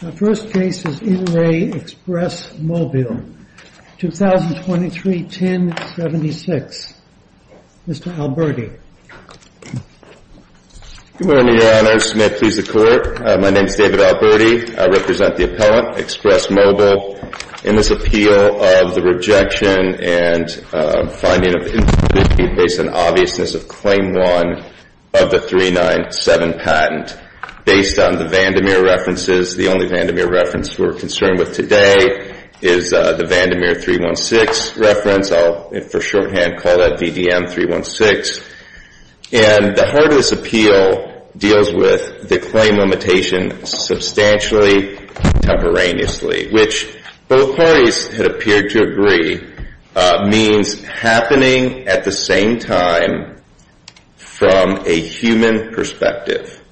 The first case is In Re. Express Mobile, 2023-1076. Mr. Alberti. Good morning, Your Honors. May it please the Court. My name is David Alberti. I represent the appellant, Express Mobile, in this appeal of the rejection and finding of incompleteness based on obviousness of Claim 1 of the 397 patent. Based on the Vandermeer references, the only Vandermeer reference we're concerned with today is the Vandermeer 316 reference. I'll, for shorthand, call that VDM 316. And the heart of this appeal deals with the claim limitation substantially contemporaneously, which both parties had appeared to agree means happening at the same time from a human perspective.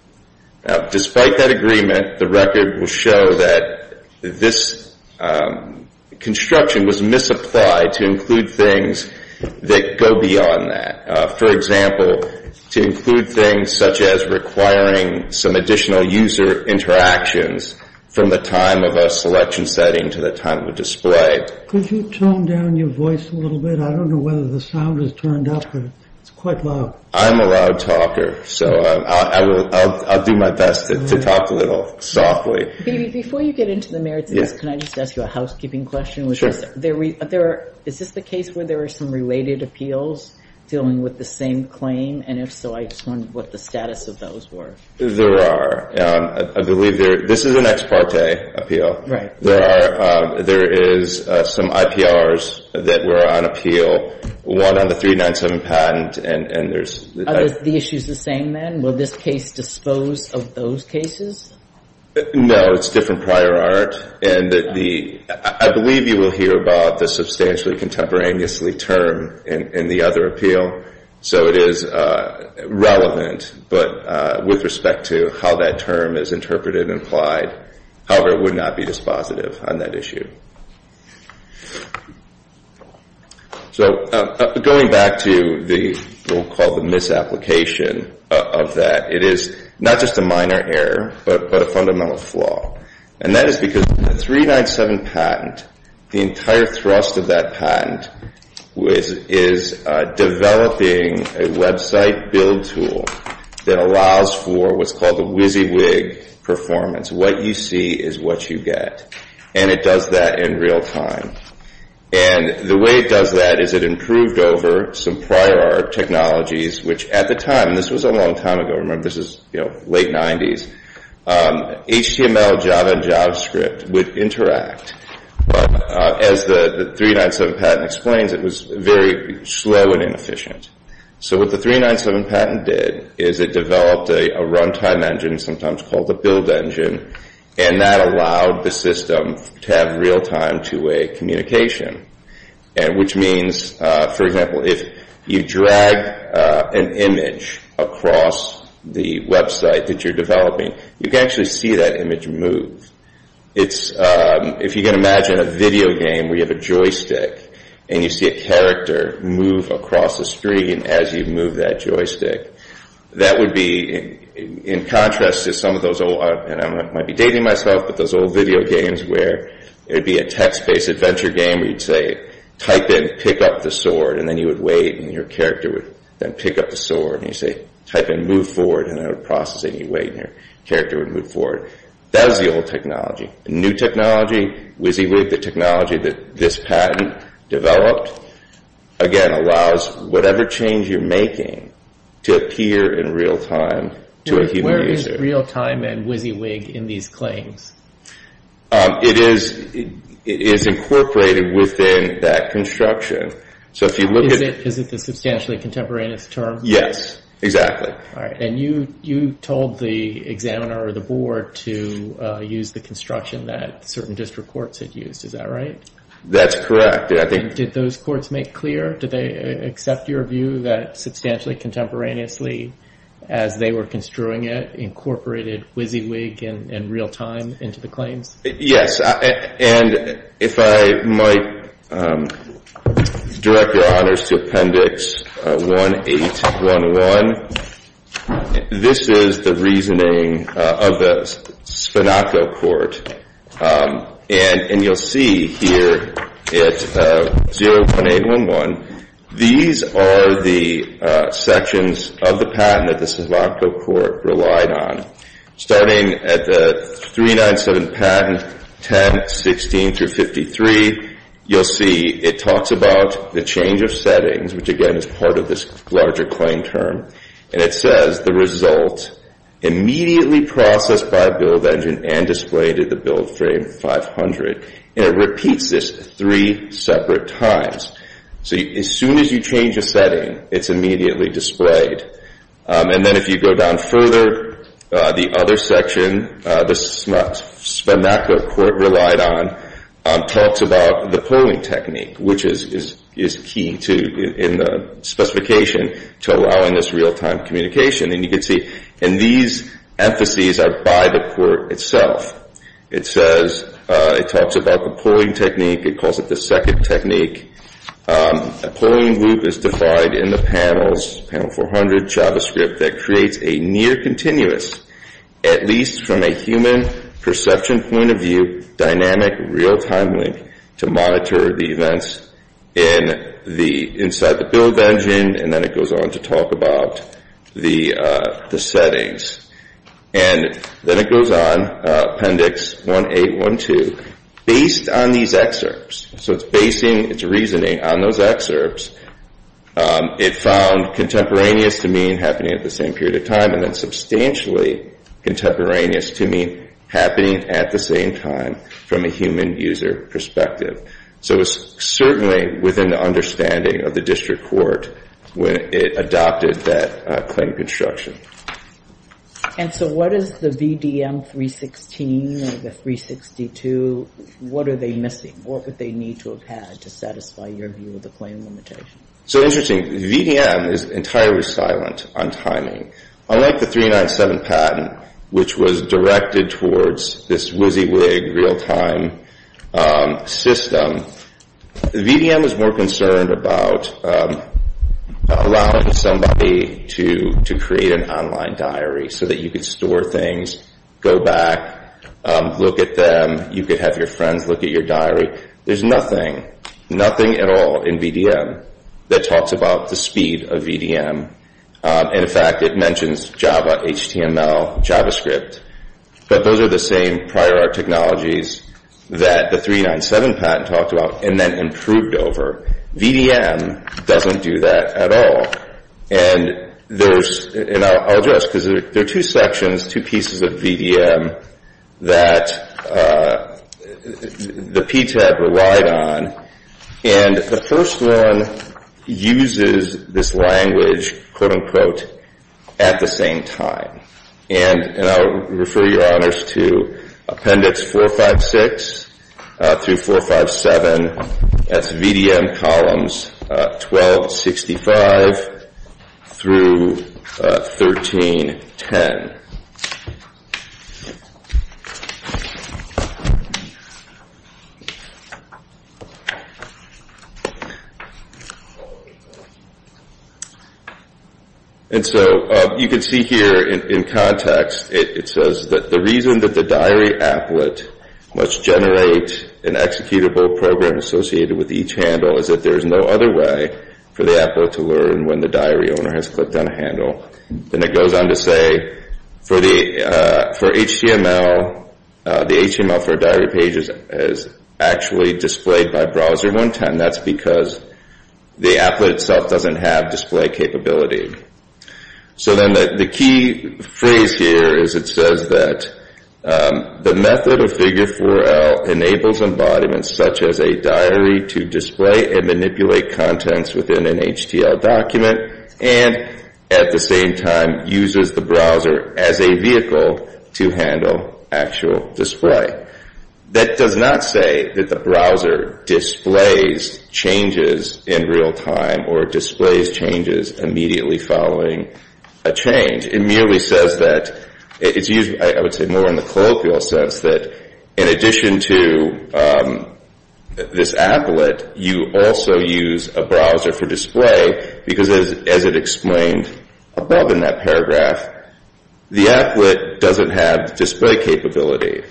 Despite that agreement, the record will show that this construction was misapplied to include things that go beyond that. For example, to include things such as requiring some additional user interactions from the time of a selection setting to the time of a display. Could you tone down your voice a little bit? I don't know whether the sound is turned up, but it's quite loud. I'm a loud talker, so I'll do my best to talk a little softly. Before you get into the merits of this, can I just ask you a housekeeping question? Sure. Is this the case where there are some related appeals dealing with the same claim? And if so, I just wondered what the status of those were. There are. I believe this is an ex parte appeal. There is some IPRs that were on appeal, one on the 397 patent, and there's the other. The issue's the same then? Will this case dispose of those cases? No, it's different prior art. And I believe you will hear about the substantially contemporaneously term in the other appeal. So it is relevant, but with respect to how that term is interpreted and applied. However, it would not be dispositive on that issue. So going back to what we'll call the misapplication of that, it is not just a minor error, but a fundamental flaw. And that is because the 397 patent, the entire thrust of that patent is developing a website build tool that allows for what's called a WYSIWYG performance. What you see is what you get. And it does that in real time. And the way it does that is it improved over some prior art technologies, which at the time, and this was a long time ago. Remember, this is late 90s. HTML, Java, and JavaScript would interact. As the 397 patent explains, it was very slow and inefficient. So what the 397 patent did is it developed a runtime engine, sometimes called the build engine, and that allowed the system to have real-time two-way communication, which means, for example, if you drag an image across the website that you're developing, you can actually see that image move. If you can imagine a video game where you have a joystick and you see a character move across the screen as you move that joystick, that would be, in contrast to some of those old, and I might be dating myself, but those old video games where it would be a text-based adventure game where you'd say, type in, pick up the sword, and then you would wait, and your character would then pick up the sword. And you'd say, type in, move forward, and then it would process it, and you'd wait, and your character would move forward. That was the old technology. The new technology, WYSIWYG, the technology that this patent developed, again, allows whatever change you're making to appear in real time to a human user. Where is real-time and WYSIWYG in these claims? It is incorporated within that construction. So if you look at it. Is it the substantially contemporaneous term? Yes, exactly. And you told the examiner or the board to use the construction that certain district courts had used, is that right? That's correct. Did those courts make clear? Did they accept your view that substantially contemporaneously, as they were construing it, incorporated WYSIWYG in real time into the claims? Yes. And if I might direct your honors to Appendix 1811, this is the reasoning of the Spinaco Court. And you'll see here at 01811, these are the sections of the patent that the Spinaco Court relied on. Starting at the 397 patent, 10, 16, through 53, you'll see it talks about the change of settings, which, again, is part of this larger claim term. And it says, the result, immediately processed by a build engine and displayed at the build frame 500. And it repeats this three separate times. So as soon as you change a setting, it's immediately displayed. And then if you go down further, the other section, the Spinaco Court relied on, talks about the polling technique, which is key, too, in the specification to allowing this real time communication. And these emphases are by the court itself. It says, it talks about the polling technique. It calls it the second technique. A polling group is defined in the panels, panel 400, JavaScript, that creates a near continuous, at least from a human perception point of view, dynamic real time link to monitor the events inside the build engine. And then it goes on to talk about the settings. And then it goes on, appendix 1812, based on these excerpts. So it's basing its reasoning on those excerpts. It found contemporaneous to mean happening at the same period of time, and then substantially contemporaneous to mean happening at the same time from a human user perspective. So it's certainly within the understanding of the district court when it adopted that claim construction. And so what is the VDM 316 or the 362, what are they missing? What would they need to have had to satisfy your view of the claim limitation? So interesting, VDM is entirely silent on timing. Unlike the 397 patent, which was directed towards this WYSIWYG real time system, VDM is more concerned about allowing somebody to create an online diary so that you can store things, go back, look at them. You could have your friends look at your diary. There's nothing, nothing at all in VDM that talks about the speed of VDM. In fact, it mentions Java, HTML, JavaScript. But those are the same prior art technologies that the 397 patent talked about and then improved over. VDM doesn't do that at all. And I'll address, because there are two sections, two pieces of VDM that the PTAB relied on. And the first one uses this language, quote unquote, at the same time. And I'll refer your honors to appendix 456 through 457. That's VDM columns 1265 through 1310. And so you can see here in context, it says that the reason that the diary applet must generate an executable program associated with each handle is that there is no other way for the applet to learn when the diary owner has clicked on a handle. And it goes on to say, for HTML, the HTML for diary pages is actually displayed by browser 110. That's because the applet itself doesn't have display capability. So then the key phrase here is it says that the method of figure 4L enables embodiments such as a diary to display and manipulate contents within an HTL document. And at the same time, uses the browser as a vehicle to handle actual display. That does not say that the browser displays changes in real time or displays changes immediately following a change. It merely says that it's used, I would say, more in the colloquial sense that in addition to this applet, you also use a browser for display because as it explained above in that paragraph, the applet doesn't have display capability.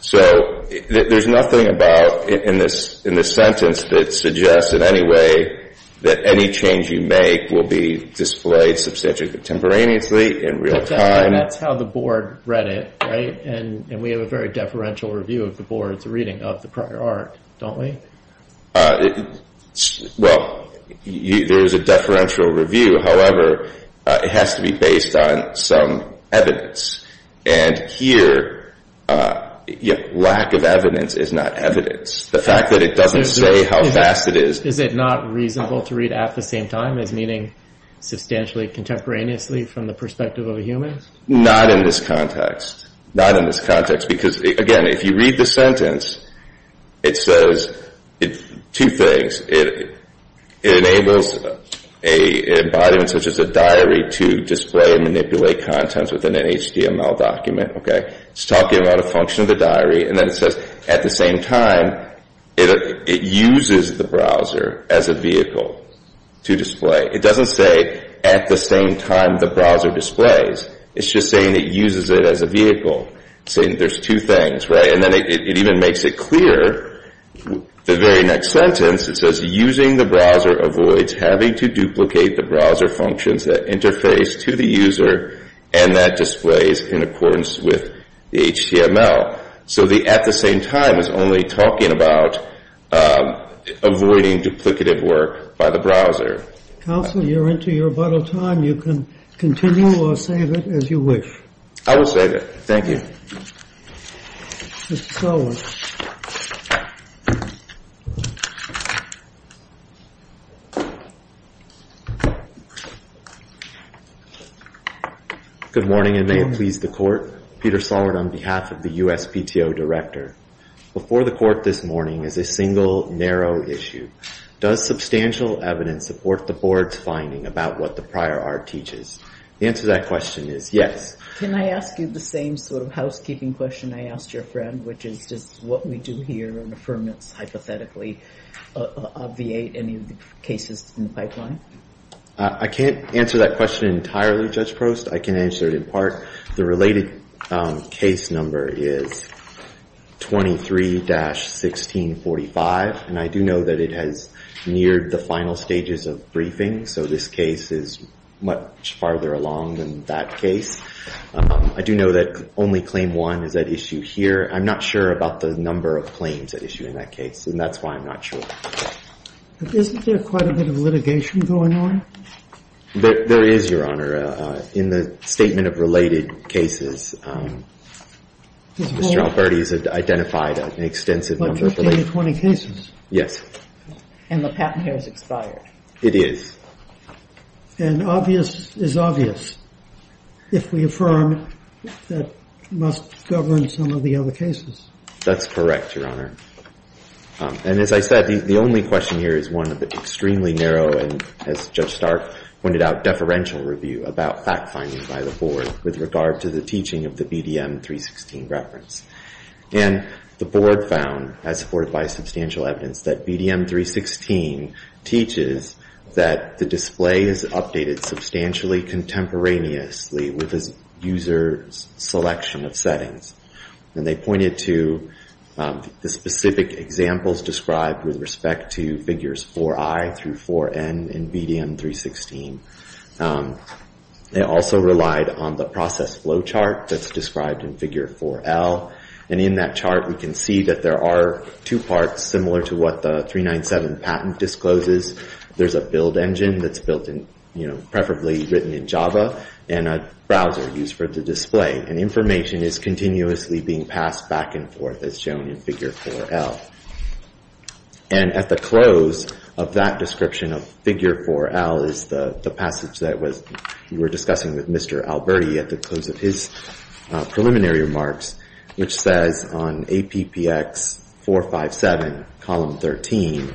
So there's nothing about in this sentence that suggests in any way that any change you make will be displayed substantially contemporaneously in real time. That's how the board read it, right? And we have a very deferential review of the board's reading of the prior art, don't we? Well, there is a deferential review. However, it has to be based on some evidence. And here, lack of evidence is not evidence. The fact that it doesn't say how fast it is. Is it not reasonable to read at the same time as meaning substantially contemporaneously from the perspective of a human? Not in this context. Not in this context. Because again, if you read the sentence, it says two things. It enables an embodiment such as a diary to display and manipulate contents within an HTML document. It's talking about a function of the diary. And then it says, at the same time, it uses the browser as a vehicle to display. It doesn't say, at the same time the browser displays. It's just saying it uses it as a vehicle. There's two things, right? And then it even makes it clear, the very next sentence, it says, using the browser avoids having to duplicate the browser functions that interface to the user and that displays in accordance with the HTML. So the at the same time is only talking about avoiding duplicative work by the browser. Counselor, you're into your bottle time. You can continue or save it as you wish. I will save it. Thank you. Good morning, and may it please the court. Peter Sollard on behalf of the USPTO director. Before the court this morning is a single, narrow issue. Does substantial evidence support the board's finding about what the prior art teaches? The answer to that question is yes. Can I ask you the same sort of housekeeping question I asked your friend, which is just what we do here in affirmance, hypothetically, of the eight, any of the cases in the pipeline? I can't answer that question entirely, Judge Prost. I can answer it in part. The related case number is 23-1645. And I do know that it has neared the final stages of briefing. So this case is much farther along than that case. I do know that only claim one is at issue here. I'm not sure about the number of claims at issue in that case, and that's why I'm not sure. Isn't there quite a bit of litigation going on? There is, Your Honor. In the statement of related cases, Mr. Alberti has identified an extensive number of related cases. About 15 or 20 cases? Yes. And the patent here is expired. It is. And obvious is obvious if we affirm that it must govern some of the other cases. That's correct, Your Honor. And as I said, the only question here is one of the extremely narrow and, as Judge Stark pointed out, deferential review about fact-finding by the board with regard to the teaching of the BDM 316 reference. And the board found, as supported by substantial evidence, that BDM 316 teaches that the display is updated substantially contemporaneously with a user's selection of settings. And they pointed to the specific examples described with respect to figures 4i through 4n in BDM 316. They also relied on the process flow chart that's described in figure 4l. And in that chart, we can see that there are two parts similar to what the 397 patent discloses. There's a build engine that's built in, preferably written in Java, and a browser used for the display. And information is continuously being passed back and forth, as shown in figure 4l. And at the close of that description of figure 4l is the passage that you were discussing with Mr. Alberti at the close of his preliminary remarks, which says on APPX 457, column 13,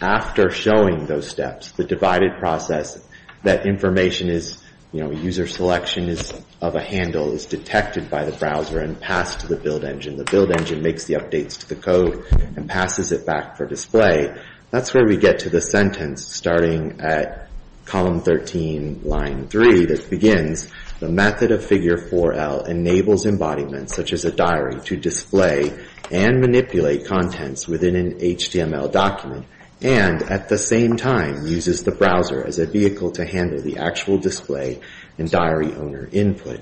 after showing those steps, the divided process, that information is user selection of a handle is detected by the browser and passed to the build engine. The build engine makes the updates to the code and passes it back for display. That's where we get to the sentence starting at column 13, line 3, that begins, the method of figure 4l enables embodiments, such as a diary, to display and manipulate contents within an HTML document, and at the same time, uses the browser as a vehicle to handle the actual display and diary owner input.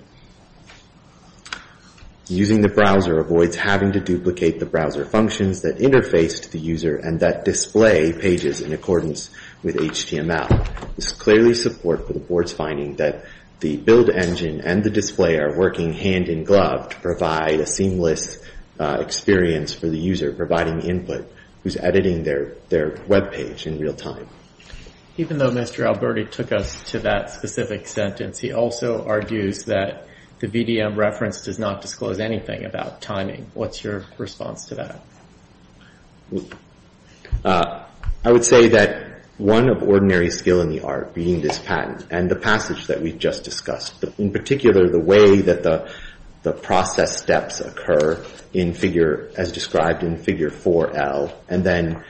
Using the browser avoids having to duplicate the browser functions that interface to the user and that display pages in accordance with HTML. This clearly supports the board's finding that the build engine and the display are working hand-in-glove to provide a seamless experience for the user, providing input who's editing their web page in real time. Even though Mr. Alberti took us to that specific sentence, he also argues that the VDM reference does not disclose anything about timing. What's your response to that? I would say that one of ordinary skill in the art being this patent and the passage that we've just discussed, in particular, the way that the process steps occur in figure, as described in figure 4l, and then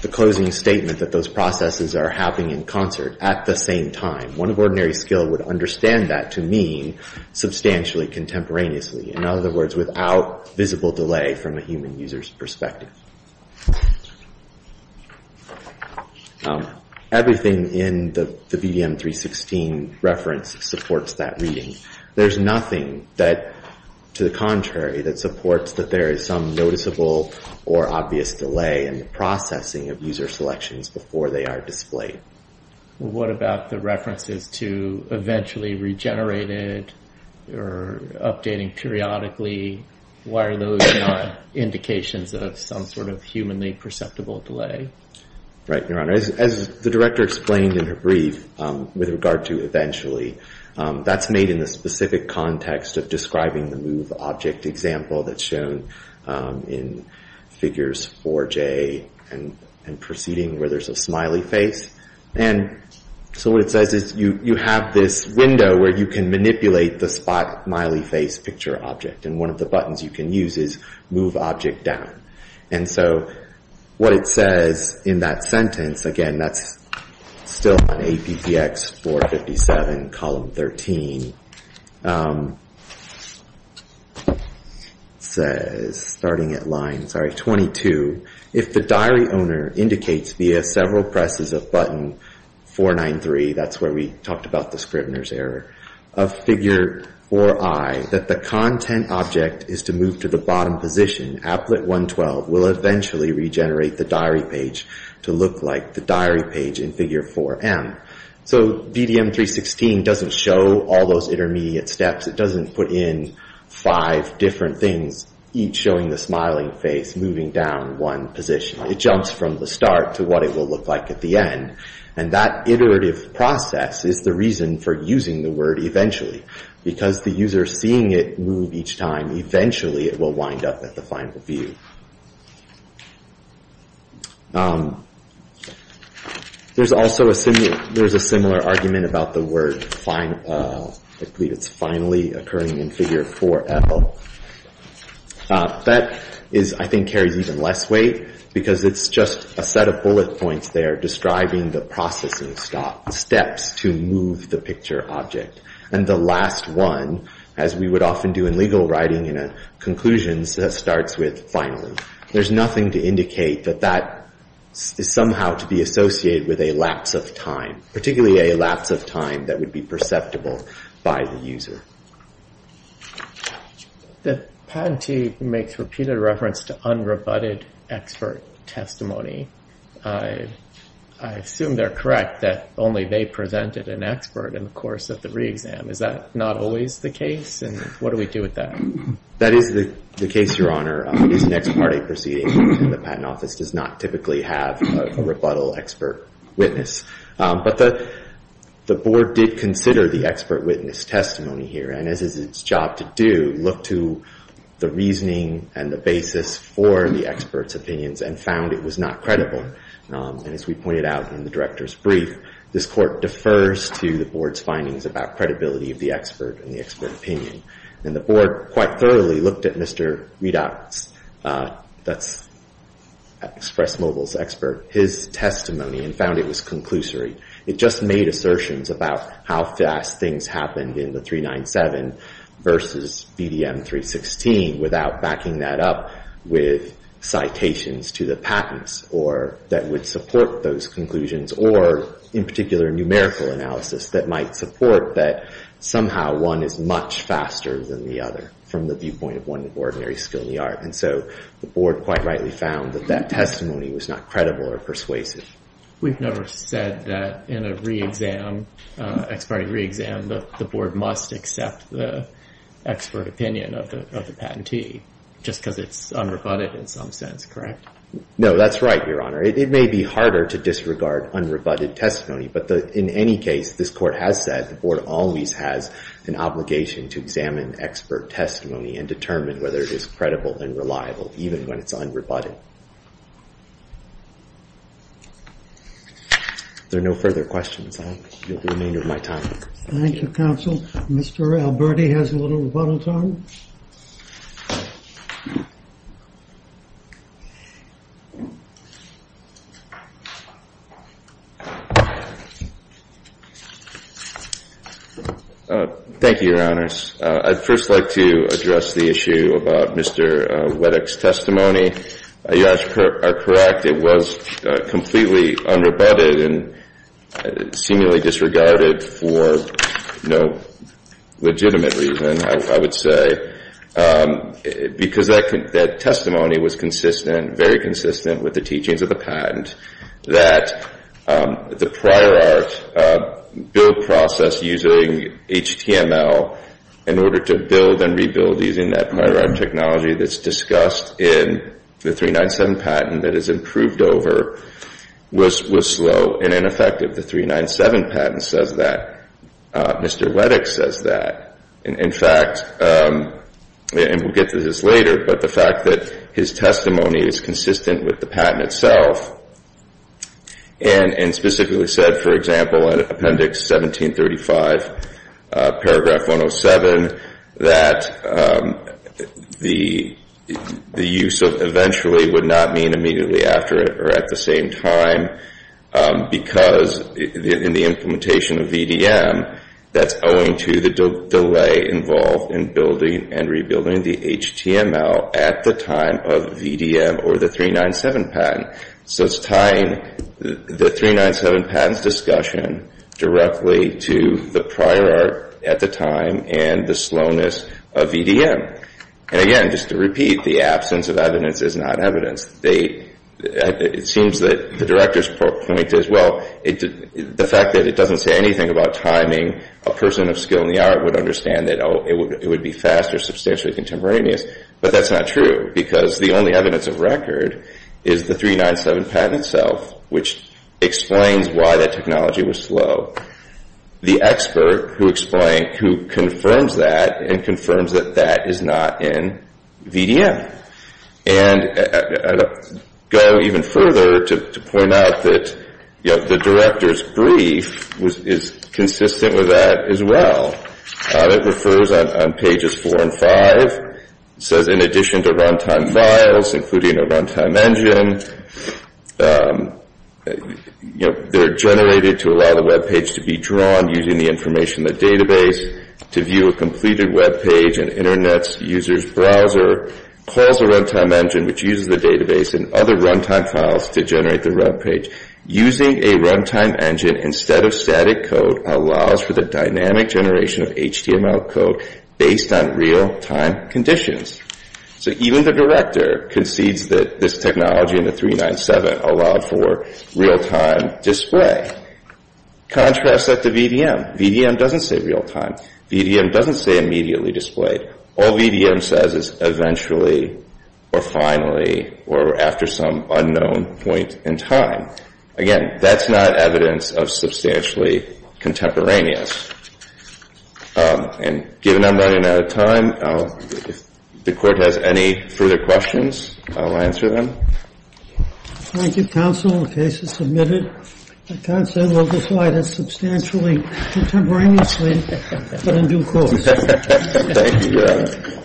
the closing statement that those processes are happening in concert at the same time. One of ordinary skill would understand that to mean substantially contemporaneously. In other words, without visible delay from a human user's perspective. Thank you. Everything in the VDM 316 reference supports that reading. There's nothing that, to the contrary, that supports that there is some noticeable or obvious delay in the processing of user selections before they are displayed. What about the references to eventually regenerated or updating periodically? Why are those not indications of some sort of humanly perceptible delay? Right, Your Honor. As the director explained in her brief with regard to eventually, that's made in the specific context of describing the move object example that's shown in figures 4j and proceeding, where there's a smiley face. And so what it says is you have this window where you can manipulate the smiley face picture object. And one of the buttons you can use is move object down. And so what it says in that sentence, again, that's still on APTX 457 column 13, says starting at line 22, if the diary owner indicates via several presses of button 493, that's where we talked about the Scribner's error, of figure 4i that the content object is to move to the bottom position. Applet 112 will eventually regenerate the diary page to look like the diary page in figure 4m. So VDM 316 doesn't show all those intermediate steps. It doesn't put in five different things, each showing the smiling face moving down one position. It jumps from the start to what it will look like at the end. And that iterative process is the reason for using the word eventually. Because the user is seeing it move each time, eventually it will wind up at the final view. There's also a similar argument about the word finally occurring in figure 4l. That, I think, carries even less weight because it's just a set of bullet points there describing the processing steps to move the picture object. And the last one, as we would often do in legal writing in a conclusion, starts with finally. There's nothing to indicate that that is somehow to be associated with a lapse of time, particularly a lapse of time that would be perceptible by the user. The patentee makes repeated reference to unrebutted expert testimony. I assume they're correct that only they presented an expert. And of course, at the re-exam, is that not always the case? And what do we do with that? That is the case, Your Honor. It is an ex parte proceeding. The patent office does not typically have a rebuttal expert witness. But the board did consider the expert witness testimony here. And as is its job to do, look to the reasoning and the basis for the expert's opinions and found it was not credible. And as we pointed out in the director's brief, this court defers to the board's findings about credibility of the expert and the expert opinion. And the board quite thoroughly looked at Mr. Redock's, that's Express Mobile's expert, his testimony and found it was conclusory. It just made assertions about how fast things happened in the 397 versus BDM 316 without backing that up with citations to the patents that would support those conclusions or, in particular, numerical analysis that might support that somehow one is much faster than the other from the viewpoint of one of ordinary skill in the art. And so the board quite rightly found that that testimony was not credible or persuasive. We've never said that in a re-exam, ex parte re-exam, the board must accept the expert opinion of the patentee just because it's unrebutted in some sense, correct? No, that's right, Your Honor. It may be harder to disregard unrebutted testimony, but in any case, this court has said the board always has an obligation to examine expert testimony and determine whether it is credible and reliable, even when it's unrebutted. There are no further questions. You have the remainder of my time. Thank you, counsel. Mr. Alberti has a little rebuttal time. Thank you, Your Honors. I'd first like to address the issue about Mr. Weddock's testimony. You are correct. It was completely unrebutted and seemingly disregarded for no legitimate reason, I would say, because that testimony was consistent, And I think that's a good thing. that the prior art build process using HTML in order to build and rebuild using that prior art technology that's discussed in the 397 patent that is improved over was slow and ineffective. The 397 patent says that. Mr. Weddock says that. In fact, and we'll get to this later, but the fact that his testimony is And specifically said, for example, in Appendix 1735, Paragraph 107, that the use of eventually would not mean immediately after it or at the same time, because in the implementation of VDM, that's owing to the delay involved in building and rebuilding the HTML at the time of VDM or the 397 patent. So it's tying the 397 patent discussion directly to the prior art at the time and the slowness of VDM. And again, just to repeat, the absence of evidence is not evidence. It seems that the director's point is, well, the fact that it doesn't say anything about timing, a person of skill in the art would understand that it would be faster, substantially contemporaneous. But that's not true, because the only evidence of record is the 397 patent itself, which explains why that technology was slow. The expert who confirms that and confirms that that is not in VDM. And I'll go even further to point out that the director's brief is consistent with that as well. It refers on pages four and five. It says, in addition to runtime files, including a runtime engine, they're generated to allow the web page to be drawn using the information in the database. To view a completed web page in internet's user's browser calls a runtime engine, which uses the database and other runtime files to generate the web page. Using a runtime engine instead of static code allows for the dynamic generation of HTML code based on real time conditions. So even the director concedes that this technology in the 397 allowed for real time display. Contrast that to VDM. VDM doesn't say real time. VDM doesn't say immediately displayed. All VDM says is eventually, or finally, or after some unknown point in time. Again, that's not evidence of substantially contemporaneous. And given I'm running out of time, if the court has any further questions, I'll answer them. Thank you, counsel. The case is submitted. I can't say it was applied as substantially contemporaneously, but in due course. Thank you, Your Honor.